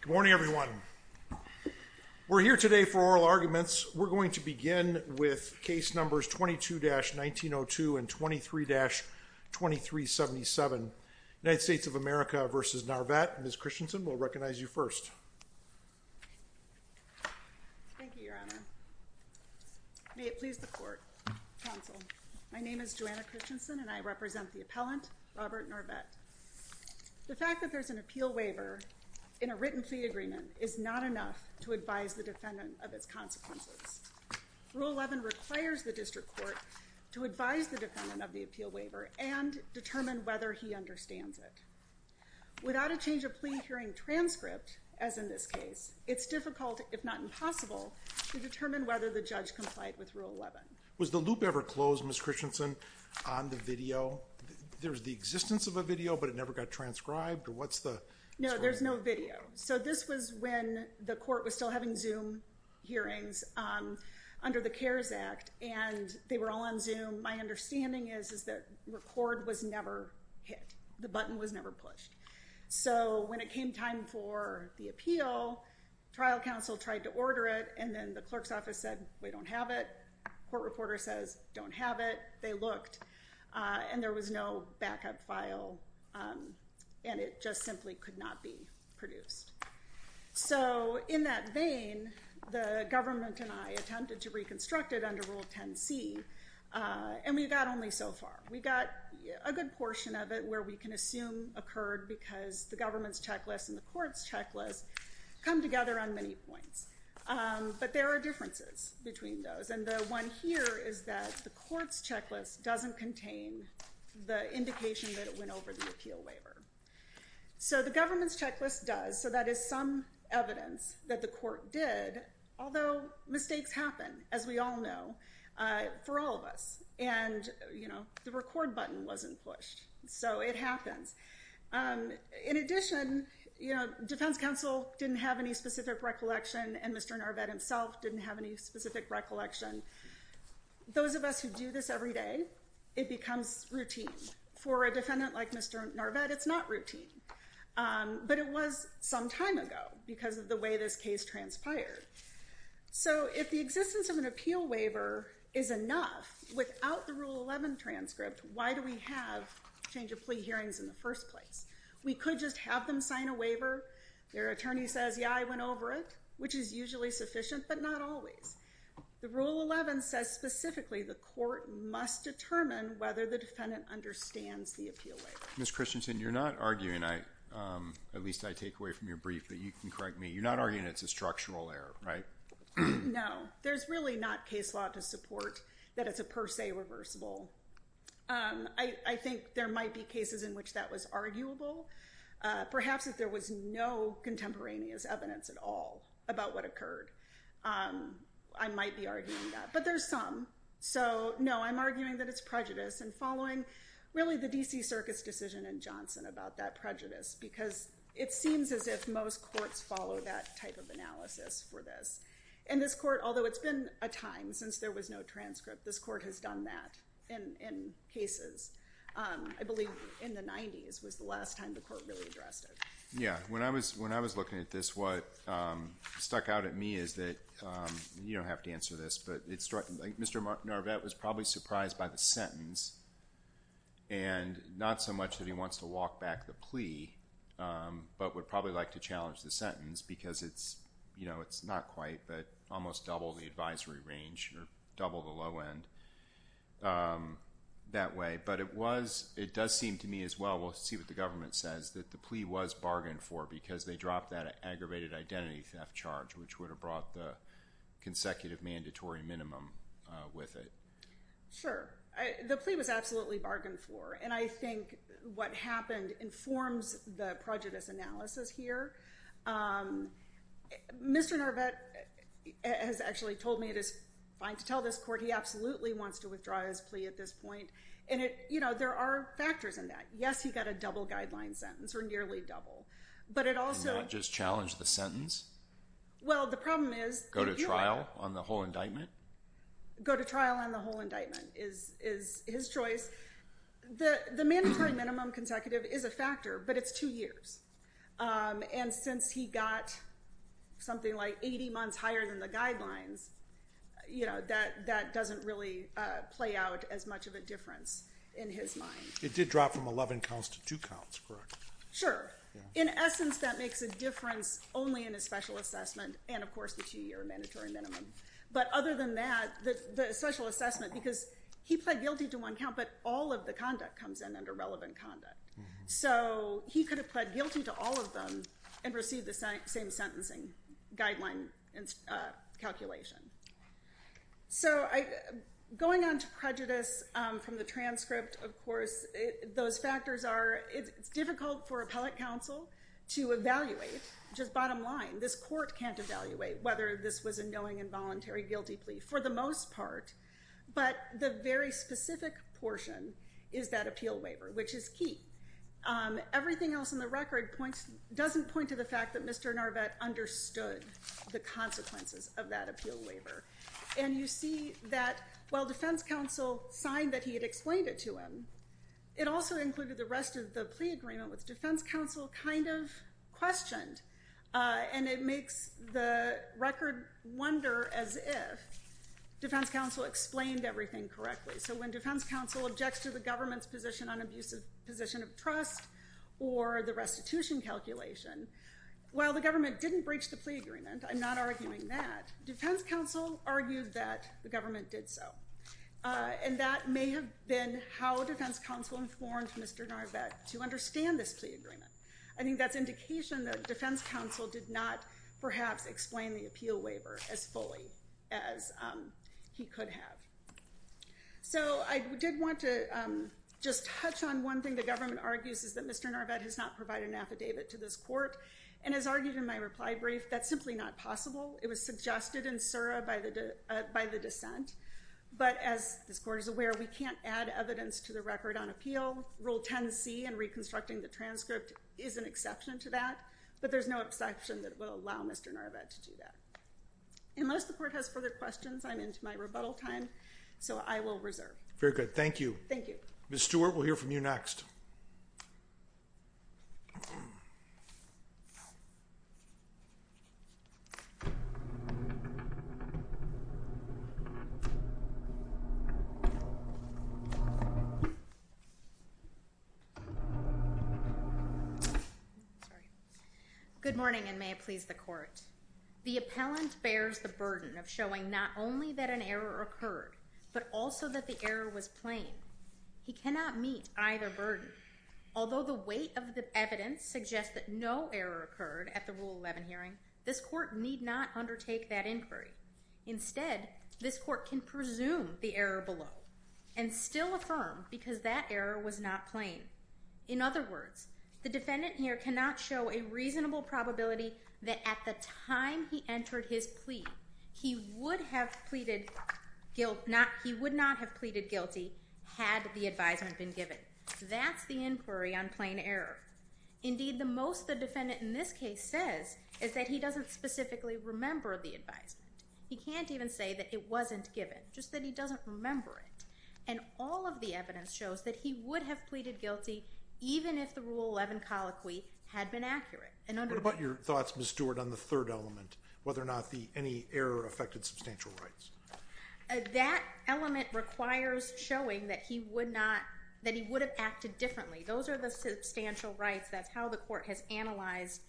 Good morning, everyone. We're here today for oral arguments. We're going to begin with case numbers 22-1902 and 23-2377. United States of America v. Narvett. Ms. Christensen, we'll recognize you first. Thank you, Your Honor. May it please the court, counsel. My name is Joanna Christensen and I represent the appellant, Robert Narvett. The fact that there's an appeal waiver in a written plea agreement is not enough to advise the defendant of its consequences. Rule 11 requires the district court to advise the defendant of the appeal waiver and determine whether he understands it. Without a change of plea hearing transcript, as in this case, it's difficult, if not impossible, to determine whether the judge complied with Rule 11. Was the loop ever closed, Ms. Christensen, on the video? There's the existence of a video, but it never got transcribed? Or what's the... No, there's no video. So this was when the court was still having Zoom hearings under the CARES Act, and they were all on Zoom. My understanding is that record was never hit. The button was never pushed. So when it came time for the appeal, trial counsel tried to order it, and then the clerk's office said, we don't have it. Court reporter says, don't have it. They looked, and there was no backup file, and it just simply could not be produced. So in that vein, the government and I attempted to reconstruct it under Rule 10C, and we got only so far. We got a good portion of it where we can assume occurred because the government's checklist and the court's checklist come together on many points. But there are differences between those, and the one here is that the court's checklist doesn't contain the indication that it went over the appeal waiver. So the government's checklist does, so that is some evidence that the court did, although mistakes happen, as we all know, for all of us. And the record button wasn't pushed, so it happens. In addition, defense counsel didn't have any specific recollection, and Mr. Narvette himself didn't have any specific recollection. Those of us who do this every day, it becomes routine. For a defendant like Mr. Narvette, it's not routine. But it was some time ago because of the way this case transpired. So if the existence of an appeal waiver is enough, without the Rule 11 transcript, why do we have change of plea hearings in the first place? We could just have them sign a waiver. Their attorney says, yeah, I went over it, which is usually sufficient, but not always. The Rule 11 says specifically the court must determine whether the defendant understands the appeal waiver. Ms. Christensen, you're not arguing, at least I take away from your brief, but you can correct me. You're not arguing it's a structural error, right? No. There's really not case law to support that it's a per se reversible. I think there might be cases in which that was arguable. Perhaps if there was no contemporaneous evidence at all about what occurred, I might be arguing that. But there's some. So no, I'm arguing that it's prejudice and following, really, the DC Circus decision in Johnson about that prejudice. Because it seems as if most courts follow that type of analysis for this. And this court, although it's been a time since there was no transcript, this court has done that in cases. I believe in the 90s was the last time the court really addressed it. Yeah. When I was looking at this, what stuck out at me is that, you don't have to answer this, but Mr. Narvette was probably surprised by the sentence. And not so much that he wants to walk back the plea, but would probably like to challenge the sentence. Because it's not quite, but almost double the advisory range, or double the low end that way. But it does seem to me as well, we'll see what the government says, that the plea was bargained for because they dropped that aggravated identity theft charge, which would have brought the consecutive mandatory minimum with it. Sure. The plea was absolutely bargained for. And I think what happened informs the prejudice analysis here. Mr. Narvette has actually told me it is fine to tell this court he absolutely wants to withdraw his plea at this point. And there are factors in that. Yes, he got a double guideline sentence, or nearly double. But it also- And not just challenge the sentence? Well, the problem is- Go to trial on the whole indictment? Go to trial on the whole indictment is his choice. The mandatory minimum consecutive is a factor, but it's two years. And since he got something like 80 months higher than the guidelines, that doesn't really play out as much of a difference in his mind. It did drop from 11 counts to two counts, correct? Sure. In essence, that makes a difference only in his special assessment, and of course the two-year mandatory minimum. But other than that, the special assessment, because he pled guilty to one count, but all of the conduct comes in under relevant conduct. So he could have pled guilty to all of them and received the same sentencing guideline calculation. So going on to prejudice from the transcript, of course, those factors are, it's difficult for appellate counsel to evaluate, which is bottom line. This court can't evaluate whether this was a knowing involuntary guilty plea, for the most part. But the very specific portion is that appeal waiver, which is key. Everything else in the record doesn't point to the fact that Mr. Narvette understood the consequences of that appeal waiver. And you see that while defense counsel signed that he had explained it to him, it also included the rest of the plea agreement, which defense counsel kind of questioned. And it makes the record wonder as if defense counsel explained everything correctly. So when defense counsel objects to the government's position on abusive position of trust, or the restitution calculation, while the government didn't breach the plea agreement, I'm not arguing that, defense counsel argued that the government did so. And that may have been how defense counsel informed Mr. Narvette to understand this plea agreement. I think that's indication that defense counsel did not, perhaps, explain the appeal waiver as fully as he could have. So I did want to just touch on one thing the government argues is that Mr. Narvette has not provided an affidavit to this court. And as argued in my reply brief, that's simply not possible. It was suggested in Sura by the dissent. But as this court is aware, we can't add evidence to the record on appeal. Rule 10C and reconstructing the transcript is an exception to that. But there's no exception that will allow Mr. Narvette to do that. Unless the court has further questions, I'm into my rebuttal time. So I will reserve. Very good. Thank you. Thank you. Ms. Stewart, we'll hear from you next. Good morning, and may it please the court. The appellant bears the burden of showing not only that an error occurred, but also that the error was plain. He cannot meet either burden. Although the weight of the evidence suggests that no error occurred at the Rule 11 hearing, this court need not undertake that inquiry. Instead, this court can presume the error below, and still affirm because that error was not plain. In other words, the defendant here cannot show a reasonable probability that at the time he entered his plea, he would not have pleaded guilty had the advisement been given. That's the inquiry on plain error. Indeed, the most the defendant in this case says is that he doesn't specifically remember the advisement. He can't even say that it wasn't given, just that he doesn't remember it. And all of the evidence shows that he would have pleaded guilty even if the Rule 11 colloquy had been accurate. What about your thoughts, Ms. Stewart, on the third element, whether or not any error affected substantial rights? That element requires showing that he would have acted differently. Those are the substantial rights. That's how the court has analyzed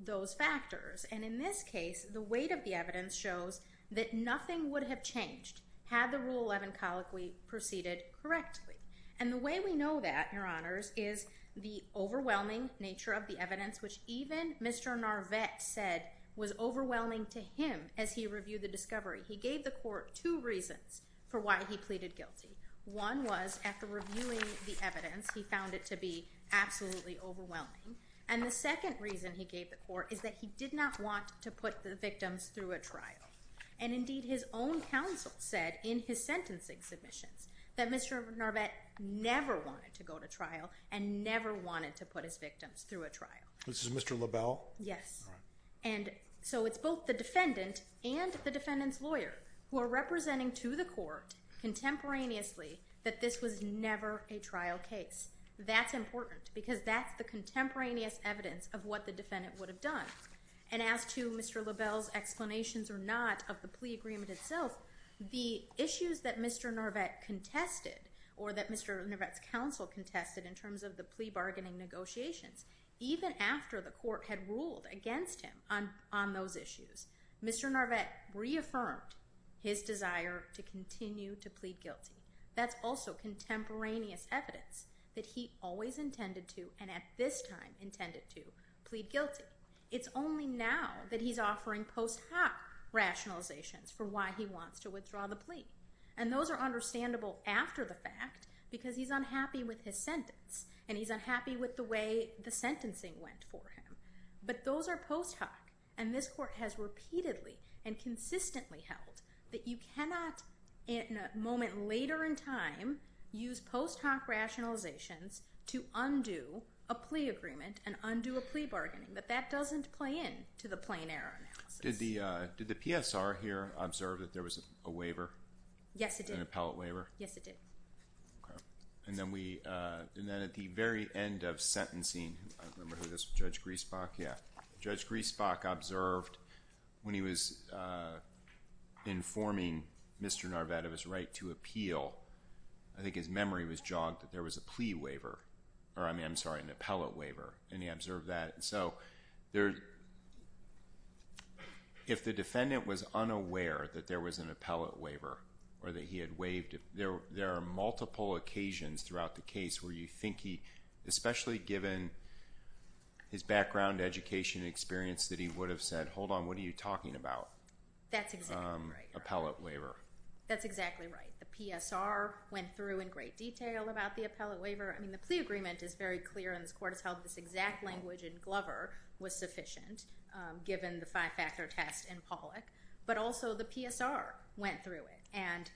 those factors. And in this case, the weight of the evidence shows that nothing would have changed had the Rule 11 colloquy proceeded correctly. And the way we know that, Your Honors, is the overwhelming nature of the evidence, which even Mr. Narvette said was overwhelming to him as he reviewed the discovery. He gave the court two reasons for why he pleaded guilty. One was, after reviewing the evidence, he found it to be absolutely overwhelming. And the second reason he gave the court is that he did not want to put the victims through a trial. And indeed, his own counsel said in his sentencing submissions that Mr. Narvette never wanted to go to trial and never wanted to put his victims through a trial. This is Mr. LaBelle? Yes. And so it's both the defendant and the defendant's lawyer who are representing to the court contemporaneously that this was never a trial case. That's important because that's the contemporaneous evidence of what the defendant would have done. And as to Mr. LaBelle's explanations or not of the plea agreement itself, the issues that Mr. Narvette contested or that Mr. Narvette's counsel contested in terms of the plea bargaining negotiations, even after the court had ruled against him on those issues, Mr. Narvette reaffirmed his desire to continue to plead guilty. That's also contemporaneous evidence that he always intended to, and at this time intended to, plead guilty. It's only now that he's offering post hoc rationalizations for why he wants to withdraw the plea. And those are understandable after the fact because he's unhappy with his sentence, and he's unhappy with the way the sentencing went for him. But those are post hoc, and this court has repeatedly and consistently held that you cannot, in a moment later in time, use post hoc rationalizations to undo a plea agreement and undo a plea bargaining, that that doesn't play into the plain error analysis. Did the PSR here observe that there was a waiver? Yes, it did. Yes, it did. Okay. And then we, and then at the very end of sentencing, I remember this, Judge Griesbach, yeah, Judge Griesbach observed when he was informing Mr. Narvette of his right to appeal, I think his memory was jogged, that there was a plea waiver, or I mean, I'm sorry, an appellate waiver, and he observed that. And so, if the defendant was unaware that there was an appellate waiver, or that he had waived, there are multiple occasions throughout the case where you think he, especially given his background, education, experience, that he would have said, hold on, what are you talking about? That's exactly right. Appellate waiver. That's exactly right. The PSR went through in great detail about the appellate waiver. I mean, the plea agreement is very clear, and this court has held this exact language in Glover was sufficient, given the five-factor test in Pollack, but also the PSR went through it, and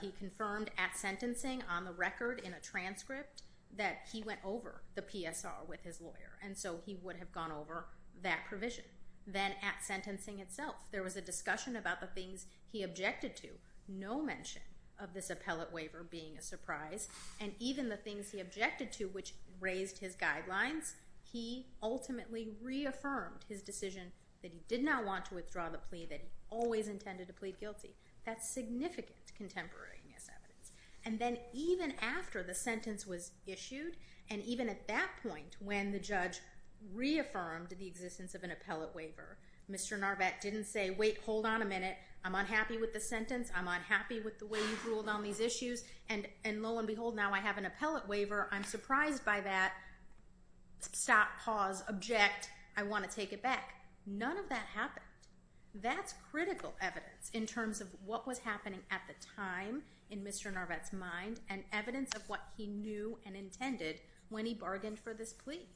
he confirmed at sentencing, on the record, in a transcript, that he went over the PSR with his lawyer, and so he would have gone over that provision. Then at sentencing itself, there was a discussion about the things he objected to. No mention of this appellate waiver being a surprise, and even the things he objected to, which raised his guidelines, he ultimately reaffirmed his decision that he did not want to withdraw the plea, that he always intended to plead guilty. That's significant contemporaneous evidence. And then even after the sentence was issued, and even at that point, when the judge reaffirmed the existence of an appellate waiver, Mr. Narvette didn't say, wait, hold on a minute, I'm unhappy with the sentence, I'm unhappy with the way you've ruled on these issues, and lo and behold, now I have an appellate waiver, I'm surprised by that, stop, pause, object, I want to take it back. None of that happened. That's critical evidence in terms of what was happening at the time in Mr. Narvette's mind, and evidence of what he knew and intended when he bargained for this plea.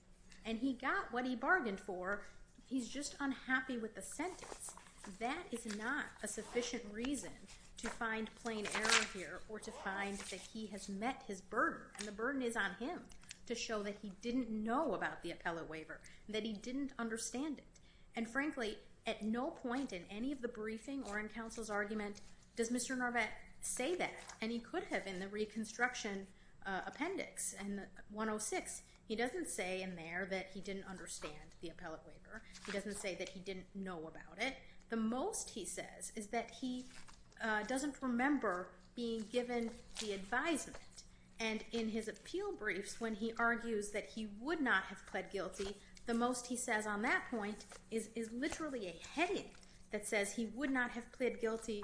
And he got what he bargained for, he's just unhappy with the sentence. That is not a sufficient reason to find plain error here or to find that he has met his burden, and the burden is on him to show that he didn't know about the appellate waiver, that he didn't understand it. And frankly, at no point in any of the briefing or in counsel's argument does Mr. Narvette say that, and he could have in the reconstruction appendix in 106. He doesn't say in there that he didn't understand the appellate waiver, he doesn't say that he didn't know about it. The most he says is that he doesn't remember being given the advisement, and in his appeal briefs when he argues that he would not have pled guilty, the most he says on that point is literally a heading that says he would not have pled guilty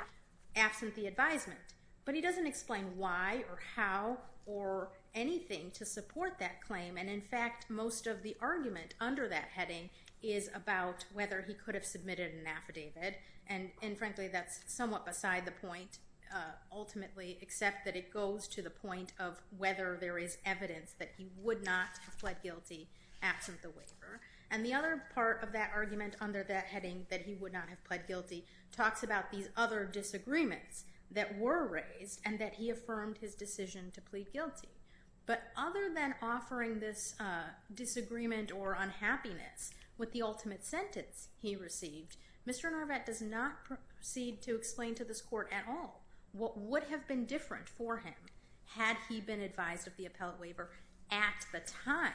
absent the advisement. But he doesn't explain why or how or anything to support that claim, and in fact, most of the argument under that heading is about whether he could have submitted an affidavit, and frankly, that's somewhat beside the point ultimately, except that it goes to the point of whether there is evidence that he would not have pled guilty absent the waiver. And the other part of that argument under that heading, that he would not have pled guilty, talks about these other disagreements that were raised and that he affirmed his decision to plead guilty. But other than offering this disagreement or unhappiness with the ultimate sentence he received, Mr. Narvette does not proceed to explain to this court at all what would have been different for him had he been advised of the appellate waiver at the time.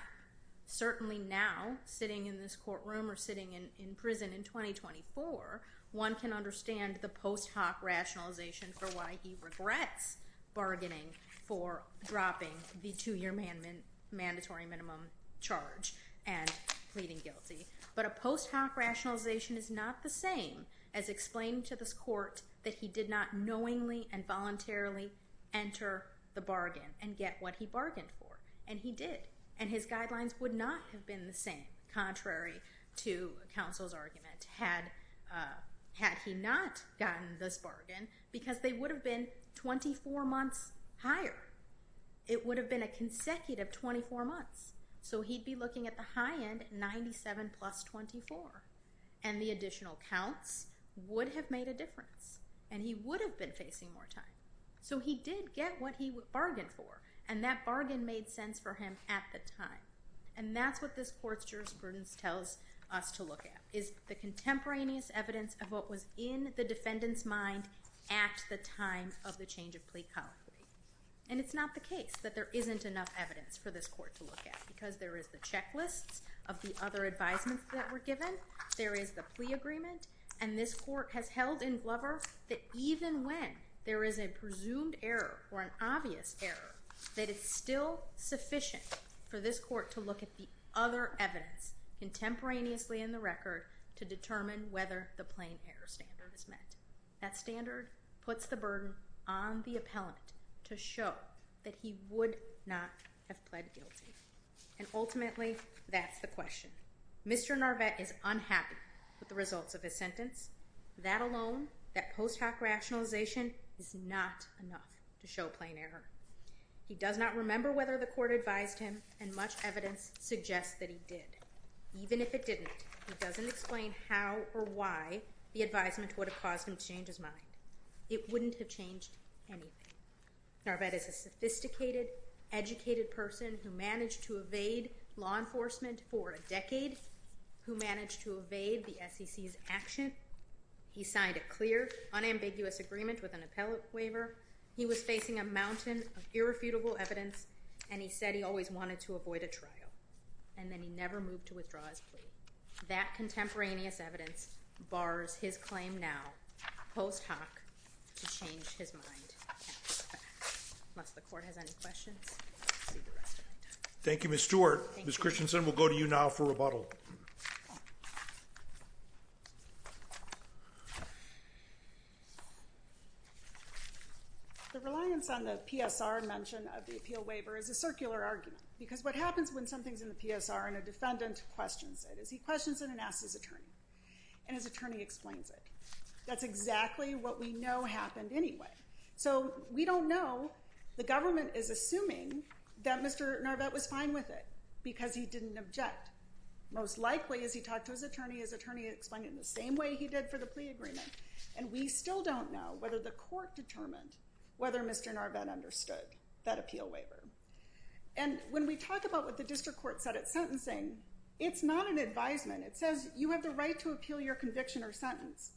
Certainly now, sitting in this courtroom or sitting in prison in 2024, one can understand the post hoc rationalization for why he regrets bargaining for dropping the two-year mandatory minimum charge and pleading guilty, but a post hoc rationalization is not the same as explaining to this court that he did not knowingly and voluntarily enter the bargain and get what he bargained for, and he did, and his guidelines would not have been the same, contrary to counsel's argument, had he not gotten this bargain, because they would have been 24 months higher. It would have been a consecutive 24 months. So he'd be looking at the high end, 97 plus 24. And the additional counts would have made a difference, and he would have been facing more time. So he did get what he bargained for, and that bargain made sense for him at the time. And that's what this court's jurisprudence tells us to look at, is the contemporaneous evidence of what was in the defendant's mind at the time of the change of plea colony. And it's not the case that there isn't enough evidence for this court to look at, because there is the checklists of the other advisements that were given, there is the plea agreement, and this court has held in blubber that even when there is a presumed error or an obvious error, that it's still sufficient for this court to look at the other evidence contemporaneously in the record to determine whether the plain error standard is met. That standard puts the burden on the appellant to show that he would not have pled guilty. And ultimately, that's the question. Mr. Narvette is unhappy with the results of his sentence. That alone, that post hoc rationalization, is not enough to show plain error. He does not remember whether the court advised him, and much evidence suggests that he did. Even if it didn't, it doesn't explain how or why the advisement would have caused him to change his mind. It wouldn't have changed anything. Narvette is a sophisticated, educated person who managed to evade law enforcement for a He signed a clear, unambiguous agreement with an appellate waiver. He was facing a mountain of irrefutable evidence, and he said he always wanted to avoid a trial. And then he never moved to withdraw his plea. That contemporaneous evidence bars his claim now, post hoc, to change his mind. Unless the court has any questions, we'll see the rest of the time. Thank you, Ms. Stewart. Ms. Christensen, we'll go to you now for rebuttal. The reliance on the PSR mention of the appeal waiver is a circular argument. Because what happens when something's in the PSR and a defendant questions it, is he questions it and asks his attorney. And his attorney explains it. That's exactly what we know happened anyway. So we don't know. The government is assuming that Mr. Narvette was fine with it, because he didn't object. Most likely, as he talked to his attorney, his attorney explained it in the same way he did for the plea agreement. And we still don't know whether the court determined whether Mr. Narvette understood that appeal waiver. And when we talk about what the district court said at sentencing, it's not an advisement. It says you have the right to appeal your conviction or sentence.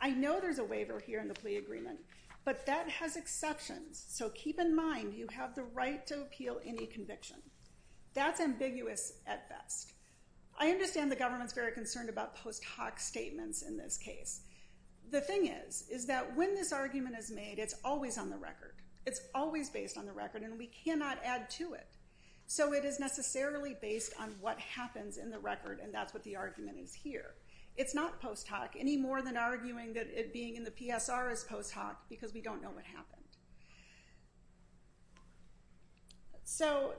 I know there's a waiver here in the plea agreement, but that has exceptions. So keep in mind, you have the right to appeal any conviction. That's ambiguous at best. I understand the government's very concerned about post hoc statements in this case. The thing is, is that when this argument is made, it's always on the record. It's always based on the record, and we cannot add to it. So it is necessarily based on what happens in the record, and that's what the argument is here. It's not post hoc, any more than arguing that it being in the PSR is post hoc, because we don't know what happened. So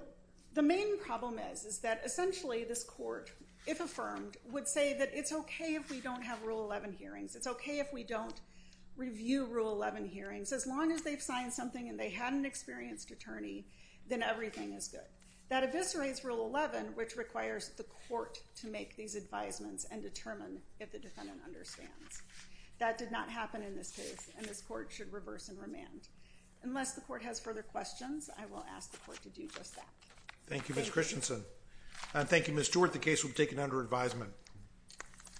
the main problem is, is that essentially this court, if affirmed, would say that it's okay if we don't have Rule 11 hearings. It's okay if we don't review Rule 11 hearings. As long as they've signed something and they had an experienced attorney, then everything is good. That eviscerates Rule 11, which requires the court to make these advisements and determine if the defendant understands. That did not happen in this case, and this court should reverse and remand. Unless the court has further questions, I will ask the court to do just that. Thank you, Ms. Christensen. Thank you, Ms. Stewart. The case will be taken under advisement.